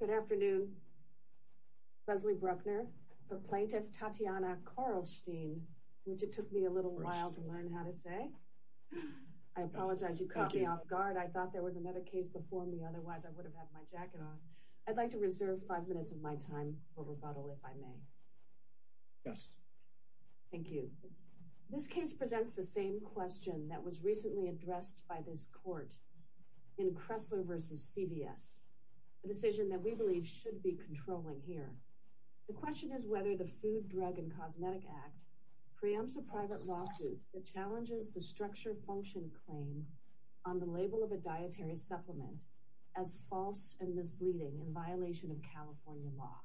Good afternoon. Leslie Bruckner for plaintiff Tatiana Korolshteyn, which it took me a little while to learn how to say. I apologize. You caught me off guard. I thought there was another case before me. Otherwise, I would have had my jacket on. I'd like to reserve five minutes of my time for rebuttal, if I may. Yes. Thank you. This case presents the same question that was recently addressed by this court in Kressler v. CVS, a decision that we believe should be controlling here. The question is whether the Food, Drug, and Cosmetic Act preempts a private lawsuit that challenges the structure-function claim on the label of a dietary supplement as false and misleading in violation of California law.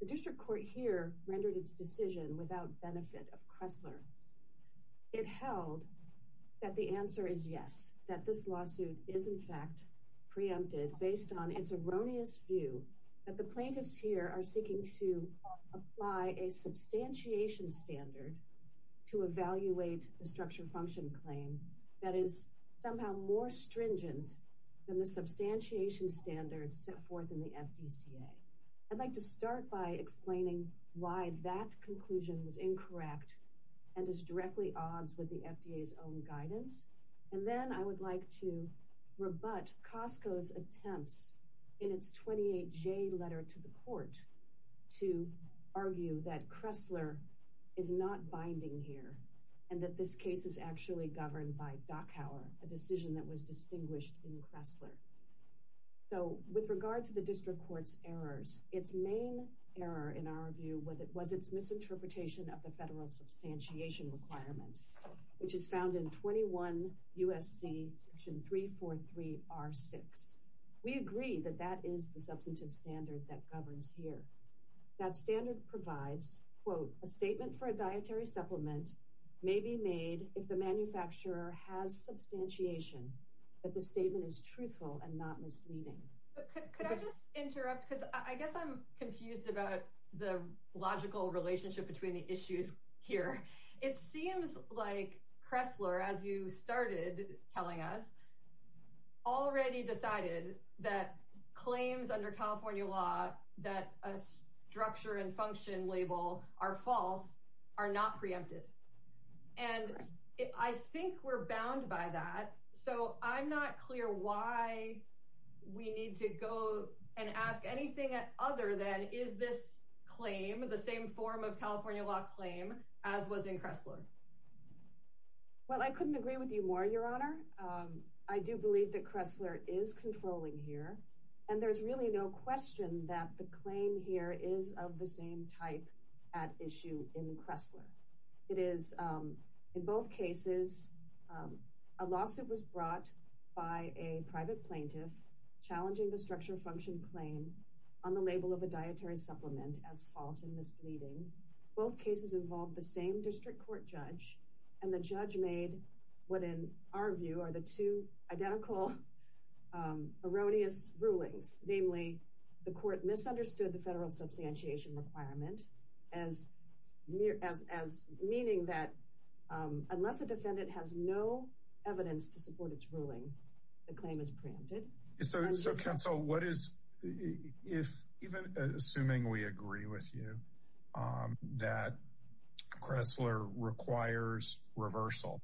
The district court here rendered its decision without benefit of Kressler. It held that the answer is yes, that this lawsuit is in fact preempted based on its erroneous view that the plaintiffs here are seeking to apply a substantiation standard to evaluate the structure-function claim that is somehow more stringent than the substantiation standard set forth in the FDCA. I'd like to start by explaining why that conclusion was incorrect and is directly at odds with the FDA's own guidance. And then I would like to rebut Costco's attempts in its 28J letter to the court to argue that Kressler is not binding here and that this case is actually governed by Dockhauer, a decision that was distinguished in Kressler. So with regard to the district court's errors, its main error in our view was its misinterpretation of the federal substantiation requirement, which is found in 21 U.S.C. section 343R6. We agree that that is the substantive standard that governs here. That standard provides, quote, a statement for a dietary supplement may be made if the manufacturer has substantiation that the statement is truthful and not misleading. Could I just interrupt? Because I guess I'm confused about the logical relationship between the issues here. It seems like Kressler, as you started telling us, already decided that claims under California law that a structure and function label are false are not preempted. And I think we're bound by that. So I'm not clear why we need to go and ask anything other than is this claim the same form of California law claim as was in Kressler? Well, I couldn't agree with you more, Your Honor. I do believe that Kressler is controlling here. And there's really no question that the claim here is of the same type at issue in Kressler. It is, in both cases, a lawsuit was brought by a private plaintiff challenging the structure and function claim on the label of a dietary supplement as false and misleading. Both cases involved the same district court judge. And the judge made what, in our view, are the two identical erroneous rulings. Namely, the court misunderstood the federal substantiation requirement as meaning that unless a defendant has no evidence to support its ruling, the claim is preempted. So, counsel, what is if even assuming we agree with you that Kressler requires reversal?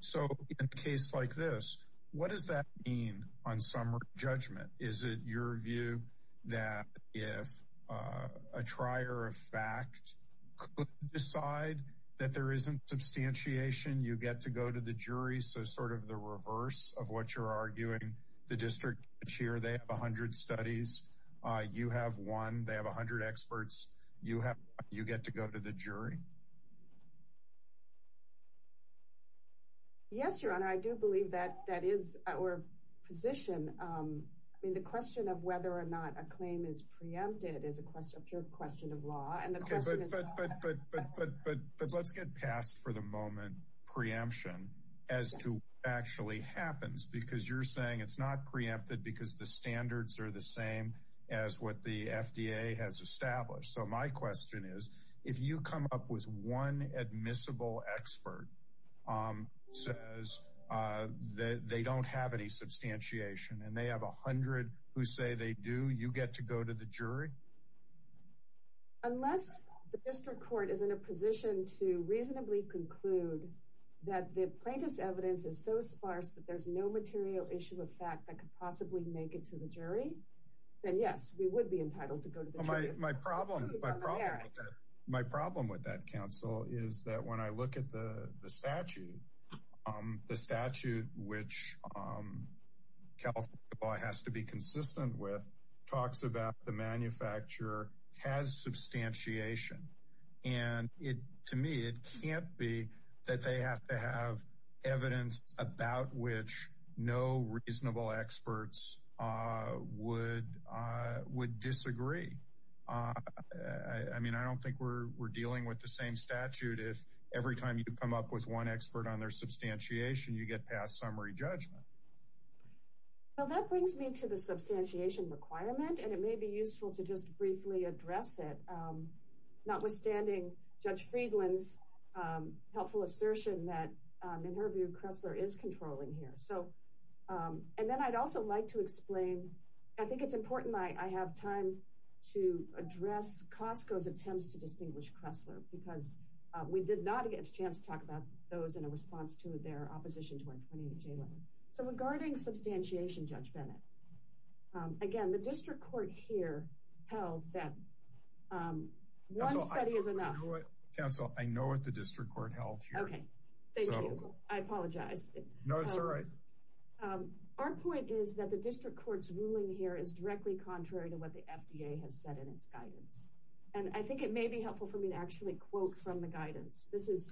So in a case like this, what does that mean on some judgment? Is it your view that if a trier of fact could decide that there isn't substantiation, you get to go to the jury? So sort of the reverse of what you're arguing. The district chair, they have 100 studies. You have one. They have 100 experts. You have you get to go to the jury. Yes, Your Honor, I do believe that that is our position. I mean, the question of whether or not a claim is preempted is a question of your question of law. But let's get past for the moment preemption as to actually happens, because you're saying it's not preempted because the standards are the same as what the FDA has established. So my question is, if you come up with one admissible expert says that they don't have any substantiation and they have 100 who say they do, you get to go to the jury. Unless the district court is in a position to reasonably conclude that the plaintiff's evidence is so sparse that there's no material issue of fact that could possibly make it to the jury. Then yes, we would be entitled to go to the jury. My problem. My problem. My problem with that counsel is that when I look at the statute, the statute, which has to be consistent with talks about the manufacturer has substantiation. And it to me, it can't be that they have to have evidence about which no reasonable experts would would disagree. I mean, I don't think we're dealing with the same statute. If every time you come up with one expert on their substantiation, you get past summary judgment. Well, that brings me to the substantiation requirement, and it may be useful to just briefly address it. Notwithstanding Judge Friedland's helpful assertion that in her view, Kressler is controlling here. So and then I'd also like to explain. I think it's important. I have time to address Costco's attempts to distinguish Kressler because we did not get a chance to talk about those in a response to their opposition to our 28 J. So regarding substantiation, Judge Bennett, again, the district court here held that one study is enough. I know what the district court held. OK, I apologize. No, it's all right. Our point is that the district court's ruling here is directly contrary to what the FDA has said in its guidance. And I think it may be helpful for me to actually quote from the guidance. This is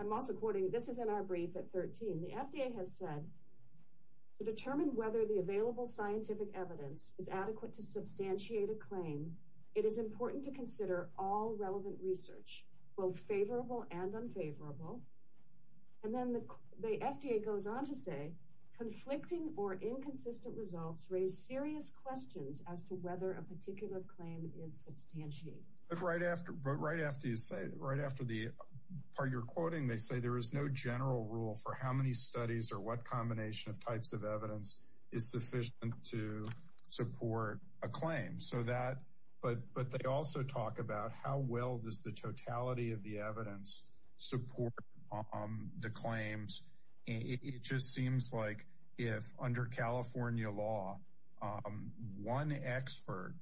I'm also quoting. This is in our brief at 13. The FDA has said to determine whether the available scientific evidence is adequate to substantiate a claim. It is important to consider all relevant research, both favorable and unfavorable. And then the FDA goes on to say conflicting or inconsistent results raise serious questions as to whether a particular claim is substantiated. But right after right after you say right after the part you're quoting, they say there is no general rule for how many studies or what combination of types of evidence is sufficient to support a claim. So that but but they also talk about how well does the totality of the evidence support the claims? It just seems like if under California law, one expert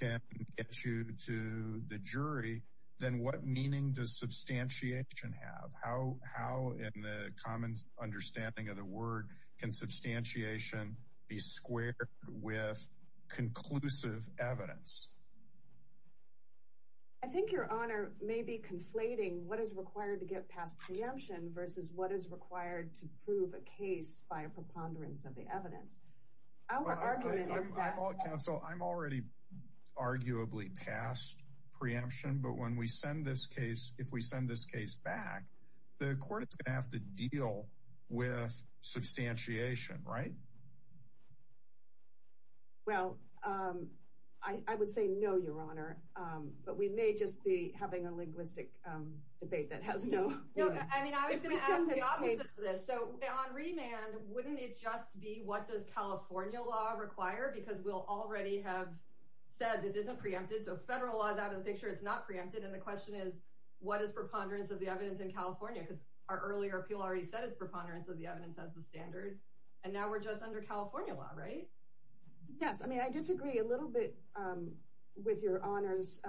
can get you to the jury. Then what meaning does substantiation have? How how in the common understanding of the word can substantiation be squared with conclusive evidence? I think your honor may be conflating what is required to get past preemption versus what is required to prove a case by a preponderance of the evidence. Our argument is that I'm already arguably past preemption. But when we send this case, if we send this case back, the court is going to have to deal with substantiation, right? Well, I would say no, your honor, but we may just be having a linguistic debate that has no. No, I mean, I was going to say this. So on remand, wouldn't it just be what does California law require? Because we'll already have said this isn't preempted. So federal laws out of the picture, it's not preempted. And the question is, what is preponderance of the evidence in California? Because our earlier appeal already said it's preponderance of the evidence as the standard. And now we're just under California law, right? Yes, I mean, I disagree a little bit with your honor's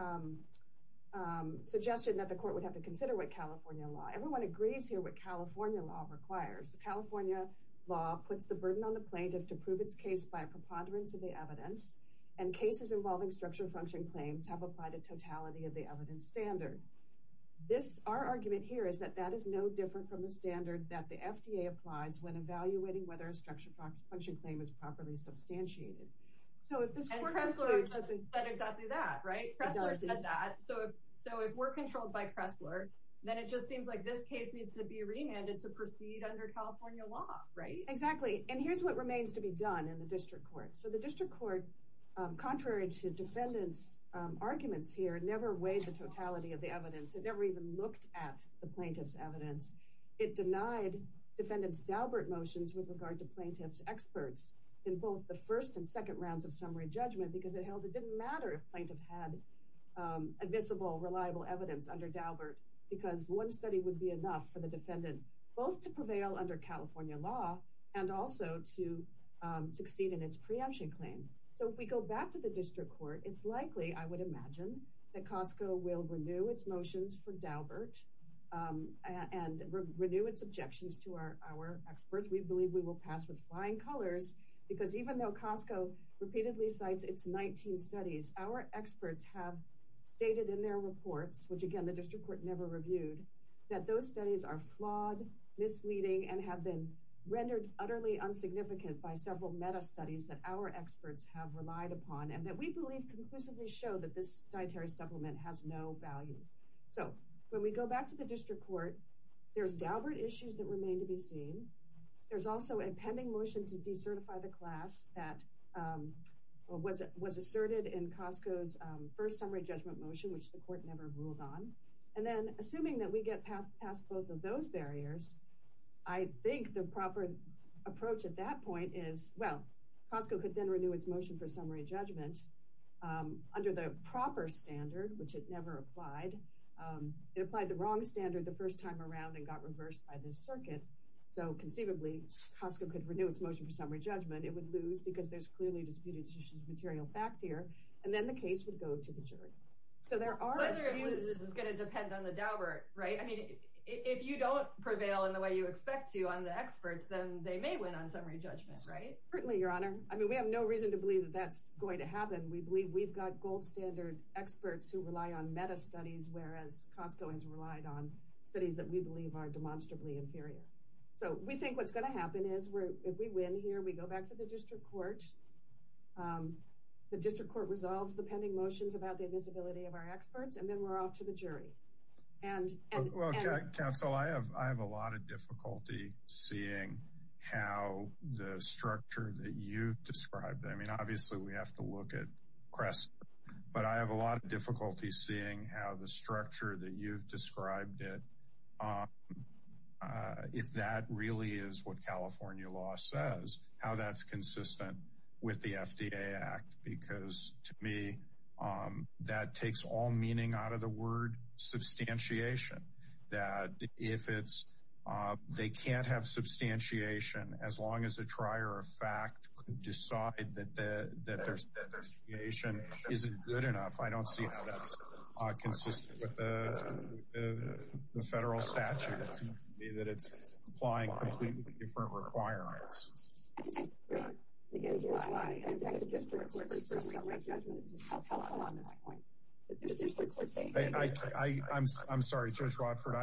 suggestion that the court would have to consider what California law. Everyone agrees here what California law requires. California law puts the burden on the plaintiff to prove its case by a preponderance of the evidence. And cases involving structured function claims have applied a totality of the evidence standard. Our argument here is that that is no different from the standard that the FDA applies when evaluating whether a structured function claim is properly substantiated. And Kressler said exactly that, right? Kressler said that. So if we're controlled by Kressler, then it just seems like this case needs to be remanded to proceed under California law, right? Exactly. And here's what remains to be done in the district court. So the district court, contrary to defendants' arguments here, never weighed the totality of the evidence. It never even looked at the plaintiff's evidence. It denied defendants' Daubert motions with regard to plaintiffs' experts in both the first and second rounds of summary judgment because it held it didn't matter if plaintiff had admissible, reliable evidence under Daubert because one study would be enough for the defendant both to prevail under California law and also to succeed in its preemption claim. So if we go back to the district court, it's likely, I would imagine, that Costco will renew its motions for Daubert and renew its objections to our experts. We believe we will pass with flying colors because even though Costco repeatedly cites its 19 studies, our experts have stated in their reports, which again the district court never reviewed, that those studies are flawed, misleading, and have been rendered utterly unsignificant by several meta-studies that our experts have relied upon and that we believe conclusively show that this dietary supplement has no value. So when we go back to the district court, there's Daubert issues that remain to be seen. There's also a pending motion to decertify the class that was asserted in Costco's first summary judgment motion, which the court never ruled on. And then assuming that we get past both of those barriers, I think the proper approach at that point is, well, Costco could then renew its motion for summary judgment under the proper standard, which it never applied. It applied the wrong standard the first time around and got reversed by this circuit. So conceivably, Costco could renew its motion for summary judgment. It would lose because there's clearly disputed issues of material fact here, and then the case would go to the jury. So there are a few— Whether it loses is going to depend on the Daubert, right? I mean, if you don't prevail in the way you expect to on the experts, then they may win on summary judgment, right? Certainly, Your Honor. I mean, we have no reason to believe that that's going to happen. We believe we've got gold standard experts who rely on meta studies, whereas Costco has relied on studies that we believe are demonstrably inferior. So we think what's going to happen is, if we win here, we go back to the district court. The district court resolves the pending motions about the invisibility of our experts, and then we're off to the jury. And— Counsel, I have a lot of difficulty seeing how the structure that you've described— I mean, obviously, we have to look at Crespo, but I have a lot of difficulty seeing how the structure that you've described it, if that really is what California law says, how that's consistent with the FDA Act, because, to me, that takes all meaning out of the word substantiation, that if it's— substantiation, as long as a trier of fact could decide that their substantiation isn't good enough, I don't see how that's consistent with the federal statute. It seems to me that it's applying completely different requirements. I'm sorry, Judge Rotherford,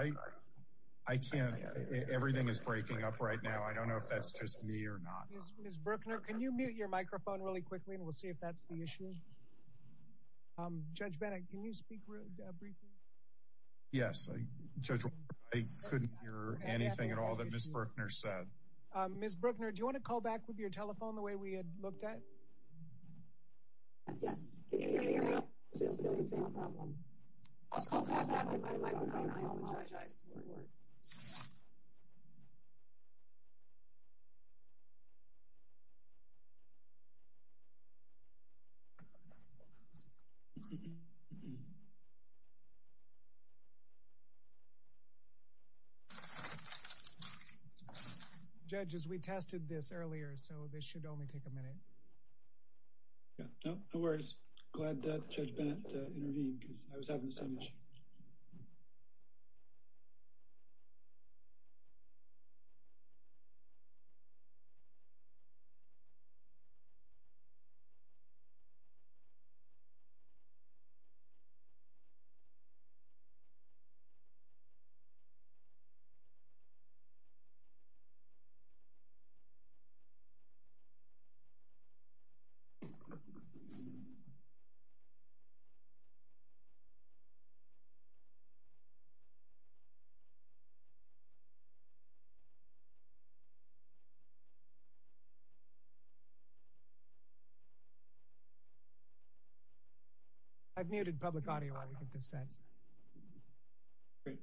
I can't—everything is breaking up right now. I don't know if that's just me or not. Ms. Bruckner, can you mute your microphone really quickly, and we'll see if that's the issue? Judge Bennett, can you speak briefly? Yes, Judge Rotherford, I couldn't hear anything at all that Ms. Bruckner said. Ms. Bruckner, do you want to call back with your telephone the way we had looked at it? Yes, can you hear me now? This is the same problem. I'll call back with my microphone. I apologize for the work. Judges, we tested this earlier, so this should only take a minute. No worries. I've muted public audio. I apologize for the delay. Great.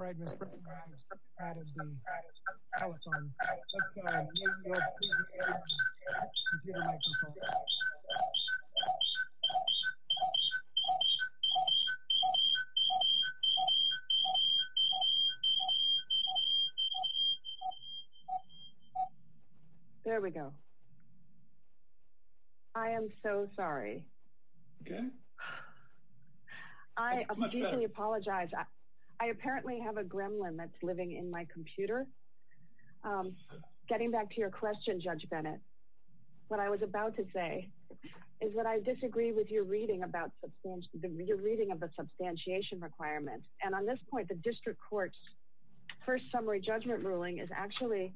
All right, Ms. Bruckner, I've added the telephone. Let's mute your computer microphone. There we go. I am so sorry. Okay. I deeply apologize. I apparently have a gremlin that's living in my computer. Getting back to your question, Judge Bennett, what I was about to say is that I disagree with your reading of the substantiation requirement. And on this point, the district court's first summary judgment ruling is actually,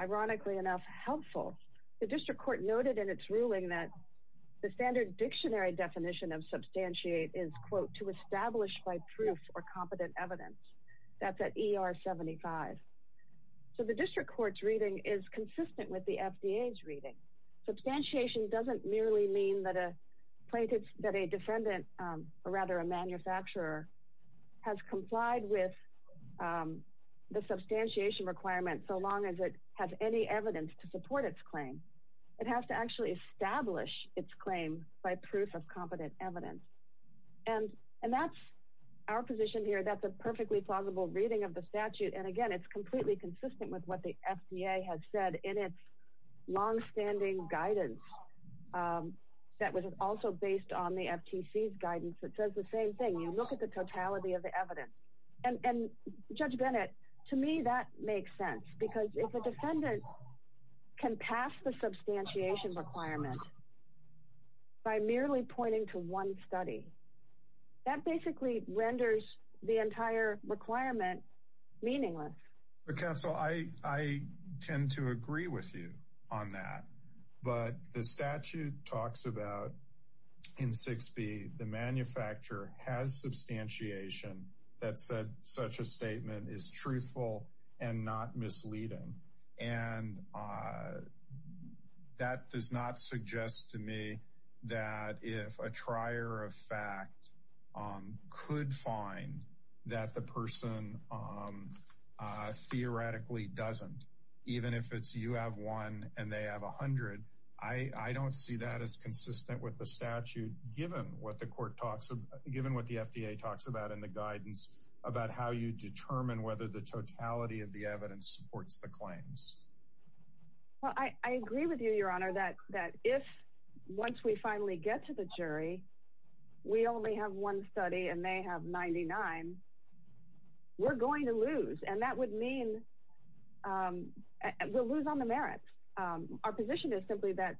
ironically enough, helpful. The district court noted in its ruling that the standard dictionary definition of substantiate is, quote, to establish by proof or competent evidence. That's at ER 75. So the district court's reading is consistent with the FDA's reading. Substantiation doesn't merely mean that a defendant, or rather a manufacturer, has complied with the substantiation requirement so long as it has any evidence to support its claim. It has to actually establish its claim by proof of competent evidence. And that's our position here. That's a perfectly plausible reading of the statute. And, again, it's completely consistent with what the FDA has said in its longstanding guidance that was also based on the FTC's guidance. It says the same thing. You look at the totality of the evidence. And, Judge Bennett, to me, that makes sense. Because if a defendant can pass the substantiation requirement by merely pointing to one study, that basically renders the entire requirement meaningless. Counsel, I tend to agree with you on that. But the statute talks about in 6B the manufacturer has substantiation that said such a statement is truthful and not misleading. And that does not suggest to me that if a trier of fact could find that the person theoretically doesn't, even if it's you have one and they have 100, I don't see that as consistent with the statute, given what the FDA talks about in the guidance about how you determine whether the totality of the evidence supports the claims. Well, I agree with you, Your Honor, that if once we finally get to the jury, we only have one study and they have 99, we're going to lose. And that would mean we'll lose on the merits. Our position is simply that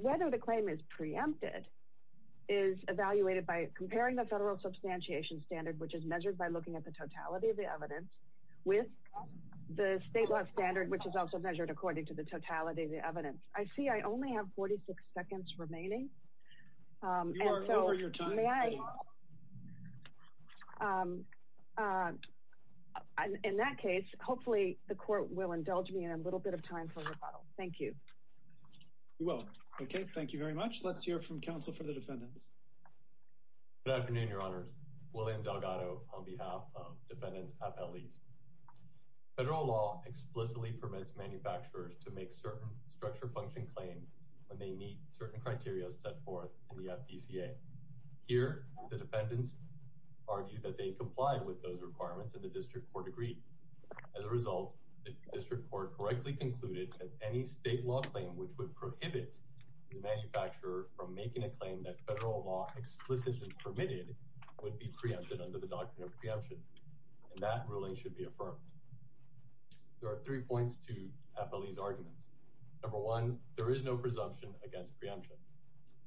whether the claim is preempted is evaluated by comparing the federal substantiation standard, which is measured by looking at the totality of the evidence, with the state law standard, which is also measured according to the totality of the evidence. I see I only have 46 seconds remaining. You are over your time. May I? In that case, hopefully the court will indulge me in a little bit of time for rebuttal. Thank you. Well, OK, thank you very much. Let's hear from counsel for the defendants. Good afternoon, Your Honors. William Delgado on behalf of defendants at least. Federal law explicitly permits manufacturers to make certain structure function claims when they meet certain criteria set forth in the FDA. Here, the defendants argue that they comply with those requirements in the district court degree. As a result, the district court correctly concluded that any state law claim which would prohibit the manufacturer from making a claim that federal law explicitly permitted would be preempted under the doctrine of preemption. And that really should be affirmed. There are three points to these arguments. Number one, there is no presumption against preemption.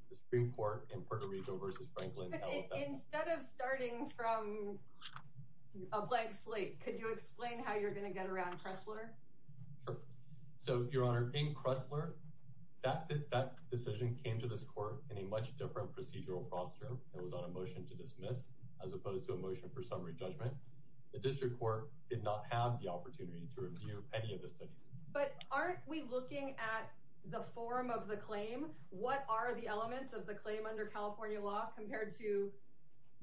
The Supreme Court in Puerto Rico versus Franklin. Instead of starting from a blank slate, could you explain how you're going to get around Cressler? So, Your Honor, in Cressler, that that decision came to this court in a much different procedural posture. It was on a motion to dismiss as opposed to a motion for summary judgment. The district court did not have the opportunity to review any of the studies. But aren't we looking at the form of the claim? What are the elements of the claim under California law compared to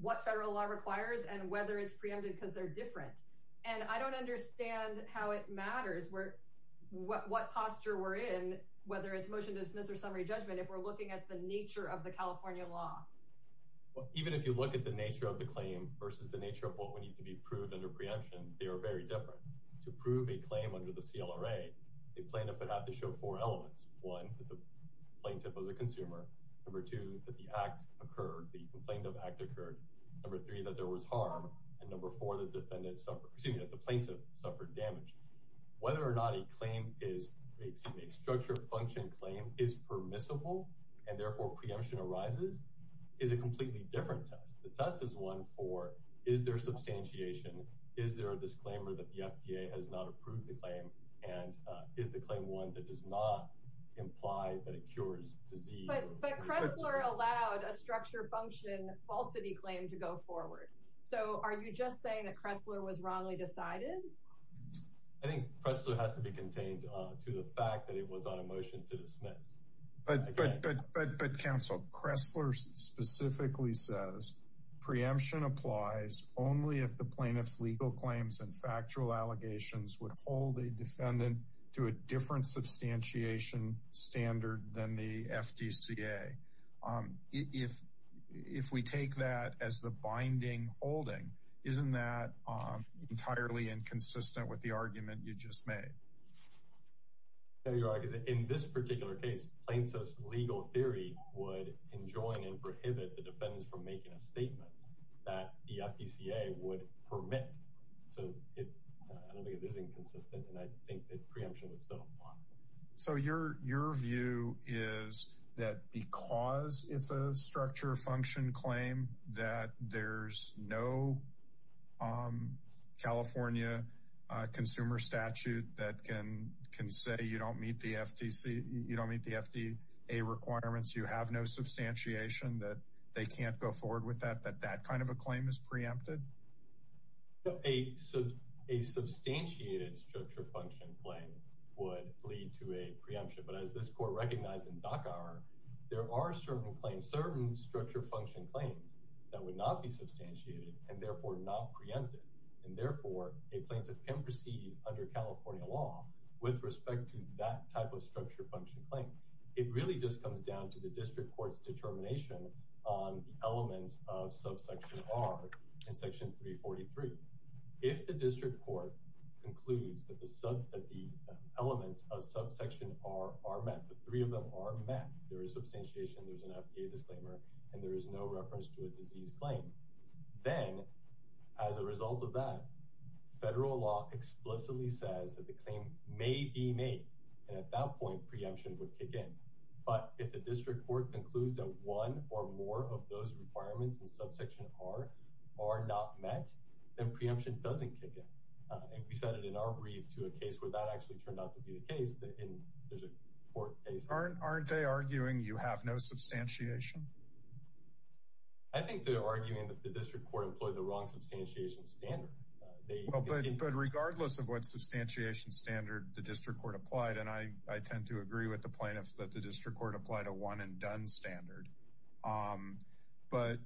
what federal law requires and whether it's preempted because they're different? And I don't understand how it matters where what posture we're in, whether it's motion to dismiss or summary judgment, if we're looking at the nature of the California law. Even if you look at the nature of the claim versus the nature of what we need to be proved under preemption, they are very different. To prove a claim under the CLRA, the plaintiff would have to show four elements. One, that the plaintiff was a consumer. Number two, that the act occurred, the complaint of act occurred. Number three, that there was harm. And number four, the defendant suffered, excuse me, that the plaintiff suffered damage. Whether or not a claim is a structure function claim is permissible and therefore preemption arises is a completely different test. The test is one for is there substantiation? Is there a disclaimer that the FDA has not approved the claim and is the claim one that does not imply that it cures disease? But Kressler allowed a structure function falsity claim to go forward. So are you just saying that Kressler was wrongly decided? I think Kressler has to be contained to the fact that it was on a motion to dismiss. But but but but council Kressler specifically says preemption applies only if the plaintiff's legal claims and factual allegations would hold a defendant to a different substantiation standard than the FDA. If if we take that as the binding holding, isn't that entirely inconsistent with the argument you just made? In this particular case, plaintiff's legal theory would enjoin and prohibit the defendants from making a statement that the FDA would permit. So I don't think it is inconsistent. And I think that preemption would still apply. So your your view is that because it's a structure function claim that there's no California consumer statute that can can say you don't meet the FTC. You don't meet the FDA requirements. You have no substantiation that they can't go forward with that, that that kind of a claim is preempted. So a substantiated structure function claim would lead to a preemption. But as this court recognized in Dockour, there are certain claims, certain structure function claims that would not be substantiated and therefore not preempted. And therefore, a plaintiff can proceed under California law with respect to that type of structure function claim. It really just comes down to the district court's determination on the elements of subsection R in section 343. If the district court concludes that the elements of subsection R are met, the three of them are met, there is substantiation, there's an FDA disclaimer, and there is no reference to a disease claim. Then as a result of that, federal law explicitly says that the claim may be made. And at that point, preemption would kick in. But if the district court concludes that one or more of those requirements in subsection R are not met, then preemption doesn't kick in. And we said it in our brief to a case where that actually turned out to be the case. There's a court case. Aren't they arguing you have no substantiation? I think they're arguing that the district court employed the wrong substantiation standard. But regardless of what substantiation standard the district court applied, and I tend to agree with the plaintiffs that the district court applied a one and done standard. But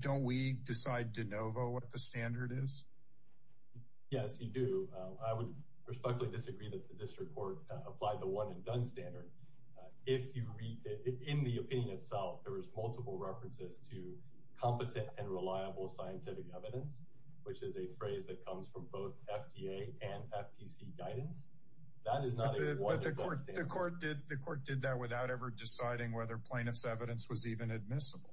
don't we decide de novo what the standard is? Yes, you do. I would respectfully disagree that the district court applied the one and done standard. In the opinion itself, there is multiple references to competent and reliable scientific evidence, which is a phrase that comes from both FDA and FTC guidance. That is not a one and done standard. But the court did that without ever deciding whether plaintiff's evidence was even admissible.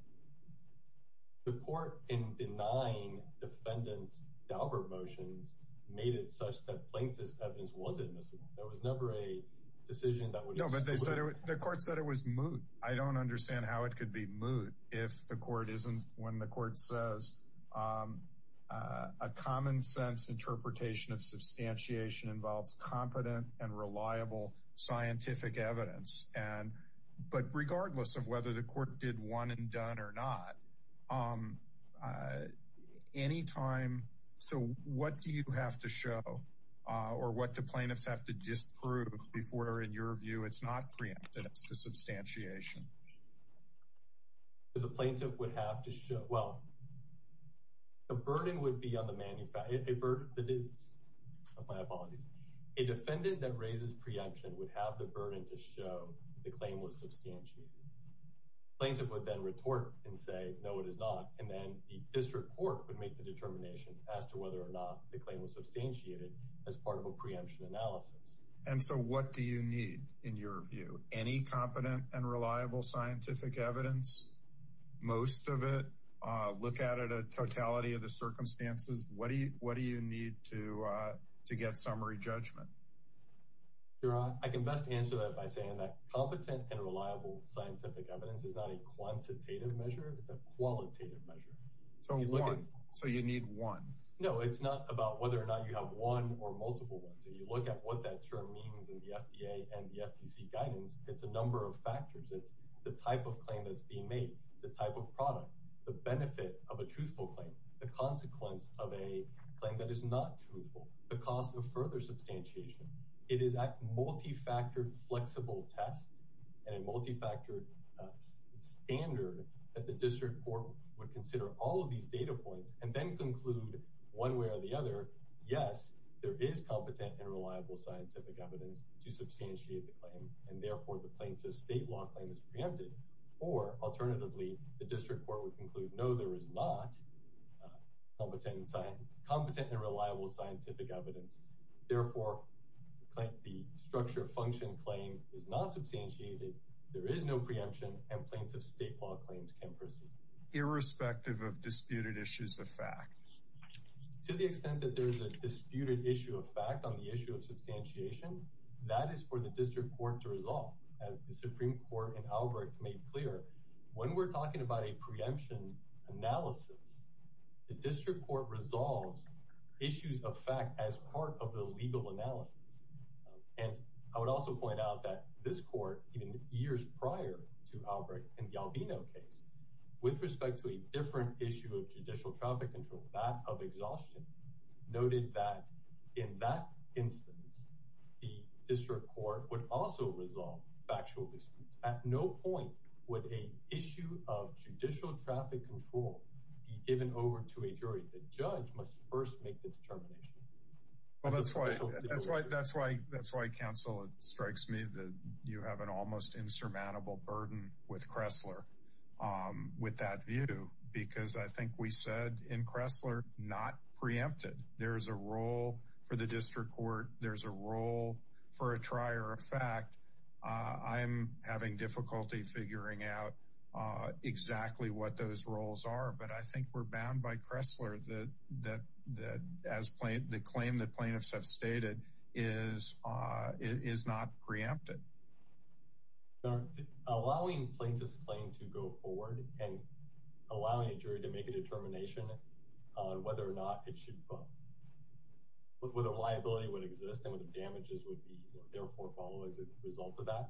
The court, in denying defendants Daubert motions, made it such that plaintiff's evidence was admissible. There was never a decision that would. No, but they said the court said it was moot. I don't understand how it could be moot if the court isn't when the court says a common sense interpretation of substantiation involves competent and reliable scientific evidence. And but regardless of whether the court did one and done or not. Any time. So what do you have to show or what the plaintiffs have to disprove before? In your view, it's not preempted. It's the substantiation. The plaintiff would have to show. Well. The burden would be on the man. A defendant that raises preemption would have the burden to show the claim was substantiated. Plaintiff would then retort and say, no, it is not. And then the district court would make the determination as to whether or not the claim was substantiated as part of a preemption analysis. And so what do you need in your view? Any competent and reliable scientific evidence? Most of it. Look at it. A totality of the circumstances. What do you what do you need to to get summary judgment? You're right. I can best answer that by saying that competent and reliable scientific evidence is not a quantitative measure. It's a qualitative measure. So you need one. No, it's not about whether or not you have one or multiple. So you look at what that term means in the FDA and the FTC guidance. It's a number of factors. It's the type of claim that's being made, the type of product, the benefit of a truthful claim, the consequence of a claim that is not truthful. The cost of further substantiation. It is a multifactored, flexible test and a multifactored standard that the district court would consider all of these data points and then conclude one way or the other. Yes, there is competent and reliable scientific evidence to substantiate the claim. And therefore, the plaintiff's state law claim is preempted. Or alternatively, the district court would conclude, no, there is not competent science, competent and reliable scientific evidence. Therefore, the structure function claim is not substantiated. There is no preemption and plaintiff's state law claims can proceed irrespective of disputed issues of fact to the extent that there is a disputed issue of fact on the issue of substantiation. That is for the district court to resolve. As the Supreme Court in Albrecht made clear, when we're talking about a preemption analysis, the district court resolves issues of fact as part of the legal analysis. And I would also point out that this court, even years prior to Albrecht and Galvino case, with respect to a different issue of judicial traffic control, that of exhaustion, noted that in that instance, the district court would also resolve factual disputes. At no point would a issue of judicial traffic control be given over to a jury. The judge must first make the determination. Well, that's why that's why that's why that's why counsel strikes me that you have an almost insurmountable burden with Kressler with that view, because I think we said in Kressler not preempted. There is a role for the district court. There's a role for a trier of fact. I'm having difficulty figuring out exactly what those roles are, but I think we're bound by Kressler that that that as plain the claim that plaintiffs have stated is is not preempted. Allowing plaintiffs claim to go forward and allowing a jury to make a determination on whether or not it should. But with a liability would exist and with the damages would be therefore follow as a result of that,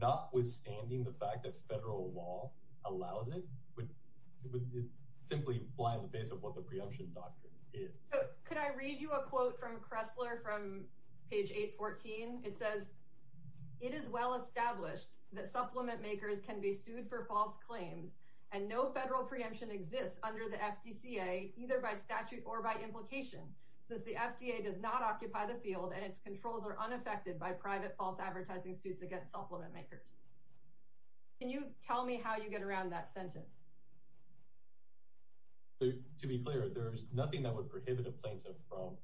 notwithstanding the fact that federal law allows it would simply fly in the face of what the preemption doctrine is. Could I read you a quote from Kressler from page 814? It says it is well established that supplement makers can be sued for false claims and no federal preemption exists under the FTCA, either by statute or by implication. Since the FDA does not occupy the field and its controls are unaffected by private false advertising suits against supplement makers. Can you tell me how you get around that sentence? To be clear, there is nothing that would prohibit a plaintiff from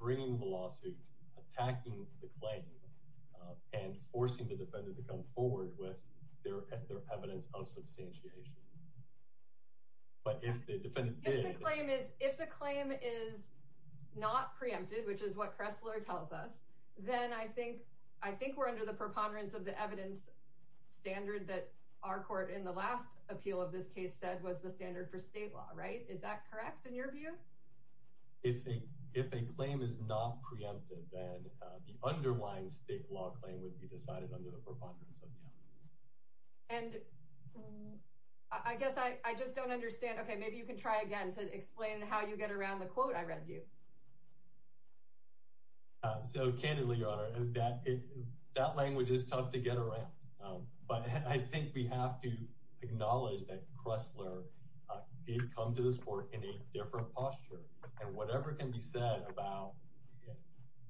bringing the lawsuit, attacking the claim and forcing the defendant to come forward with their evidence of substantiation. But if the claim is if the claim is not preempted, which is what Kressler tells us, then I think I think we're under the preponderance of the evidence standard that our court in the last appeal of this case said was the standard for state law. Right. Is that correct? In your view, if a if a claim is not preempted, then the underlying state law claim would be decided under the preponderance of the evidence. And I guess I just don't understand. OK, maybe you can try again to explain how you get around the quote. I read you. So candidly, your honor, that that language is tough to get around, but I think we have to acknowledge that Kressler did come to this court in a different posture. And whatever can be said about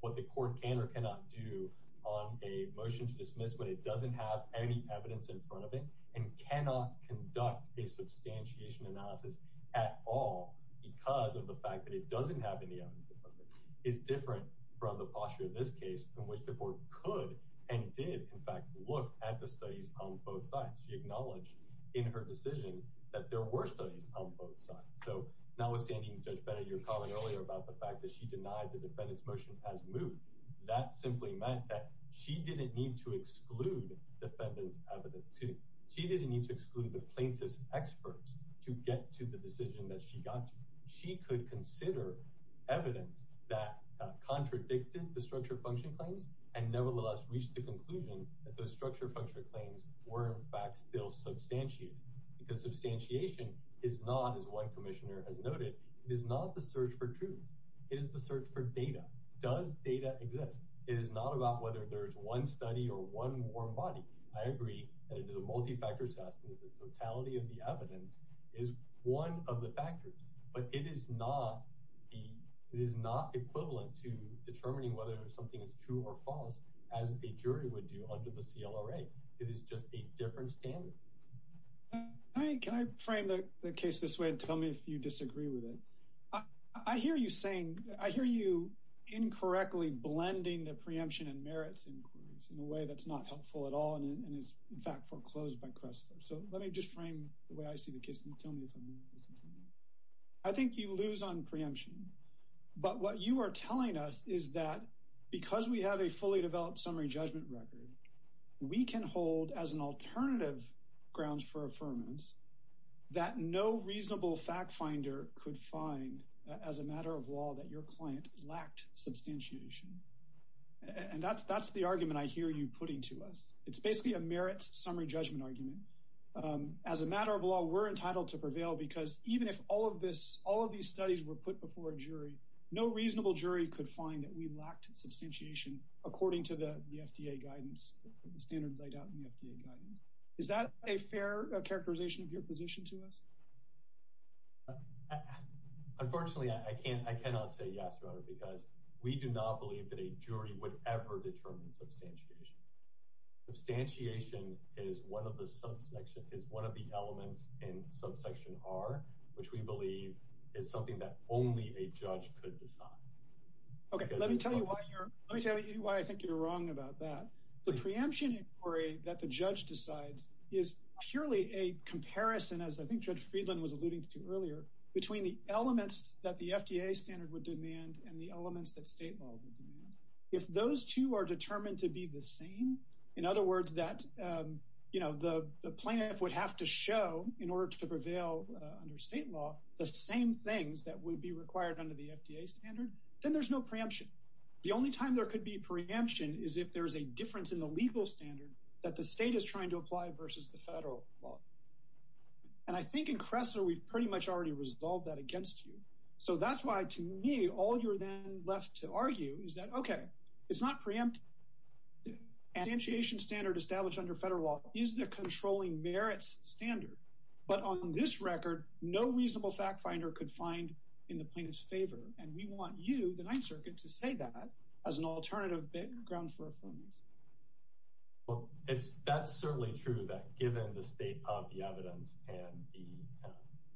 what the court can or cannot do on a motion to dismiss when it doesn't have any evidence in front of it and cannot conduct a substantiation analysis at all because of the fact that it doesn't have any evidence is different from the posture of this case in which the court could and did, in fact, look at the studies on both sides. And in fact, she acknowledged in her decision that there were studies on both sides. So notwithstanding Judge Bennett, your comment earlier about the fact that she denied the defendant's motion has moved. That simply meant that she didn't need to exclude defendant's evidence. She didn't need to exclude the plaintiff's experts to get to the decision that she got. She could consider evidence that contradicted the structure function claims and nevertheless reached the conclusion that those structure function claims were, in fact, still substantiated because substantiation is not, as one commissioner has noted, is not the search for truth is the search for data. Does data exist? It is not about whether there is one study or one warm body. I agree that it is a multi-factor test. The totality of the evidence is one of the factors, but it is not the it is not equivalent to determining whether something is true or false, as a jury would do under the CLRA. It is just a different standard. Can I frame the case this way and tell me if you disagree with it? I hear you saying I hear you incorrectly blending the preemption and merits inquiries in a way that's not helpful at all. In fact, foreclosed by Chris. So let me just frame the way I see the case and tell me if I'm wrong. I think you lose on preemption. But what you are telling us is that because we have a fully developed summary judgment record, we can hold as an alternative grounds for affirmance that no reasonable fact finder could find as a matter of law that your client lacked substantiation. And that's that's the argument I hear you putting to us. It's basically a merits summary judgment argument. As a matter of law, we're entitled to prevail because even if all of this, all of these studies were put before a jury, no reasonable jury could find that we lacked substantiation, according to the FDA guidance standards laid out in the FDA guidance. Is that a fair characterization of your position to us? Unfortunately, I can't I cannot say yes or no, because we do not believe that a jury would ever determine substantiation. Substantiation is one of the subsection is one of the elements in subsection are which we believe is something that only a judge could decide. OK, let me tell you why. Let me tell you why I think you're wrong about that. The preemption inquiry that the judge decides is purely a comparison, as I think Judge Friedland was alluding to earlier, between the elements that the FDA standard would demand and the elements that state law. If those two are determined to be the same, in other words, that, you know, the plaintiff would have to show in order to prevail under state law, the same things that would be required under the FDA standard, then there's no preemption. The only time there could be preemption is if there is a difference in the legal standard that the state is trying to apply versus the federal law. And I think in Cressa, we've pretty much already resolved that against you. So that's why, to me, all you're then left to argue is that, OK, it's not preempt. But on this record, no reasonable fact finder could find in the plaintiff's favor. And we want you, the Ninth Circuit, to say that as an alternative ground for affirmation. Well, it's that's certainly true that given the state of the evidence and the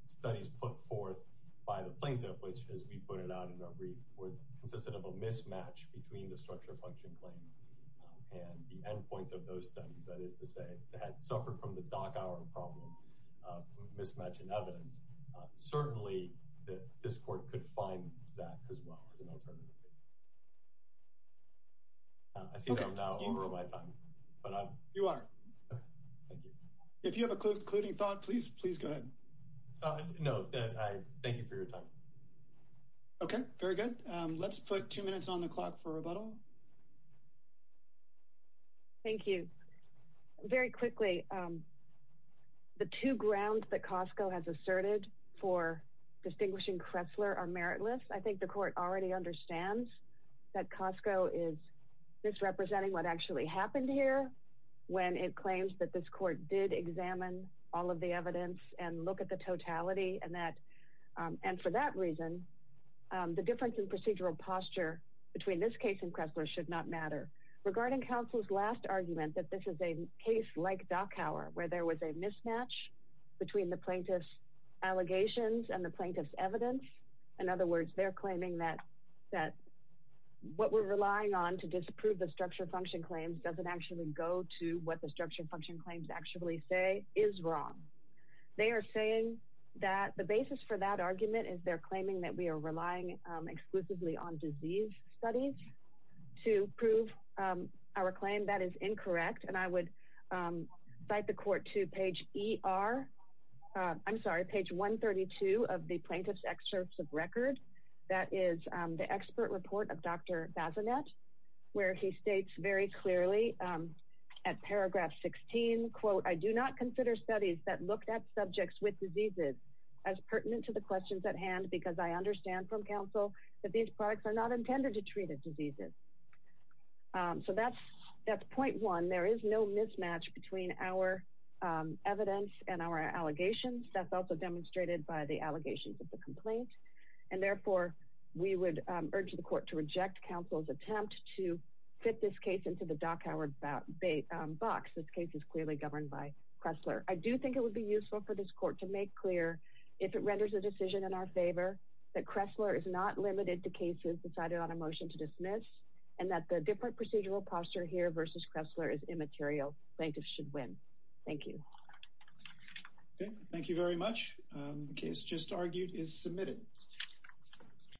studies put forth by the plaintiff, which, as we put it out in our brief, were consistent of a mismatch between the structure function claim and the endpoints of those studies, that is to say, suffered from the Dockour problem, mismatch in evidence. Certainly, this court could find that as well as an alternative. I think I'm now over my time, but you are. Thank you. If you have a concluding thought, please, please go ahead. No, I thank you for your time. OK, very good. Let's put two minutes on the clock for rebuttal. Thank you very quickly. The two grounds that Costco has asserted for distinguishing Kressler are meritless. I think the court already understands that Costco is misrepresenting what actually happened here when it claims that this court did examine all of the evidence and look at the totality and that. And for that reason, the difference in procedural posture between this case and Kressler should not matter regarding counsel's last argument that this is a case like Dockour, where there was a mismatch between the plaintiff's allegations and the plaintiff's evidence. In other words, they're claiming that that what we're relying on to disprove the structure function claims doesn't actually go to what the structure function claims actually say is wrong. They are saying that the basis for that argument is they're claiming that we are relying exclusively on disease studies to prove our claim that is incorrect. And I would cite the court to page E.R., I'm sorry, page 132 of the plaintiff's excerpts of record. That is the expert report of Dr. Bazinet, where he states very clearly at paragraph 16, quote, I do not consider studies that looked at subjects with diseases as pertinent to the questions at hand because I understand from counsel that these products are not intended to treat diseases. So that's point one. There is no mismatch between our evidence and our allegations. That's also demonstrated by the allegations of the complaint. And therefore, we would urge the court to reject counsel's attempt to fit this case into the Dockour box. This case is clearly governed by Kressler. I do think it would be useful for this court to make clear, if it renders a decision in our favor, that Kressler is not limited to cases decided on a motion to dismiss and that the different procedural posture here versus Kressler is immaterial. Plaintiffs should win. Thank you. Thank you very much. The case just argued is submitted.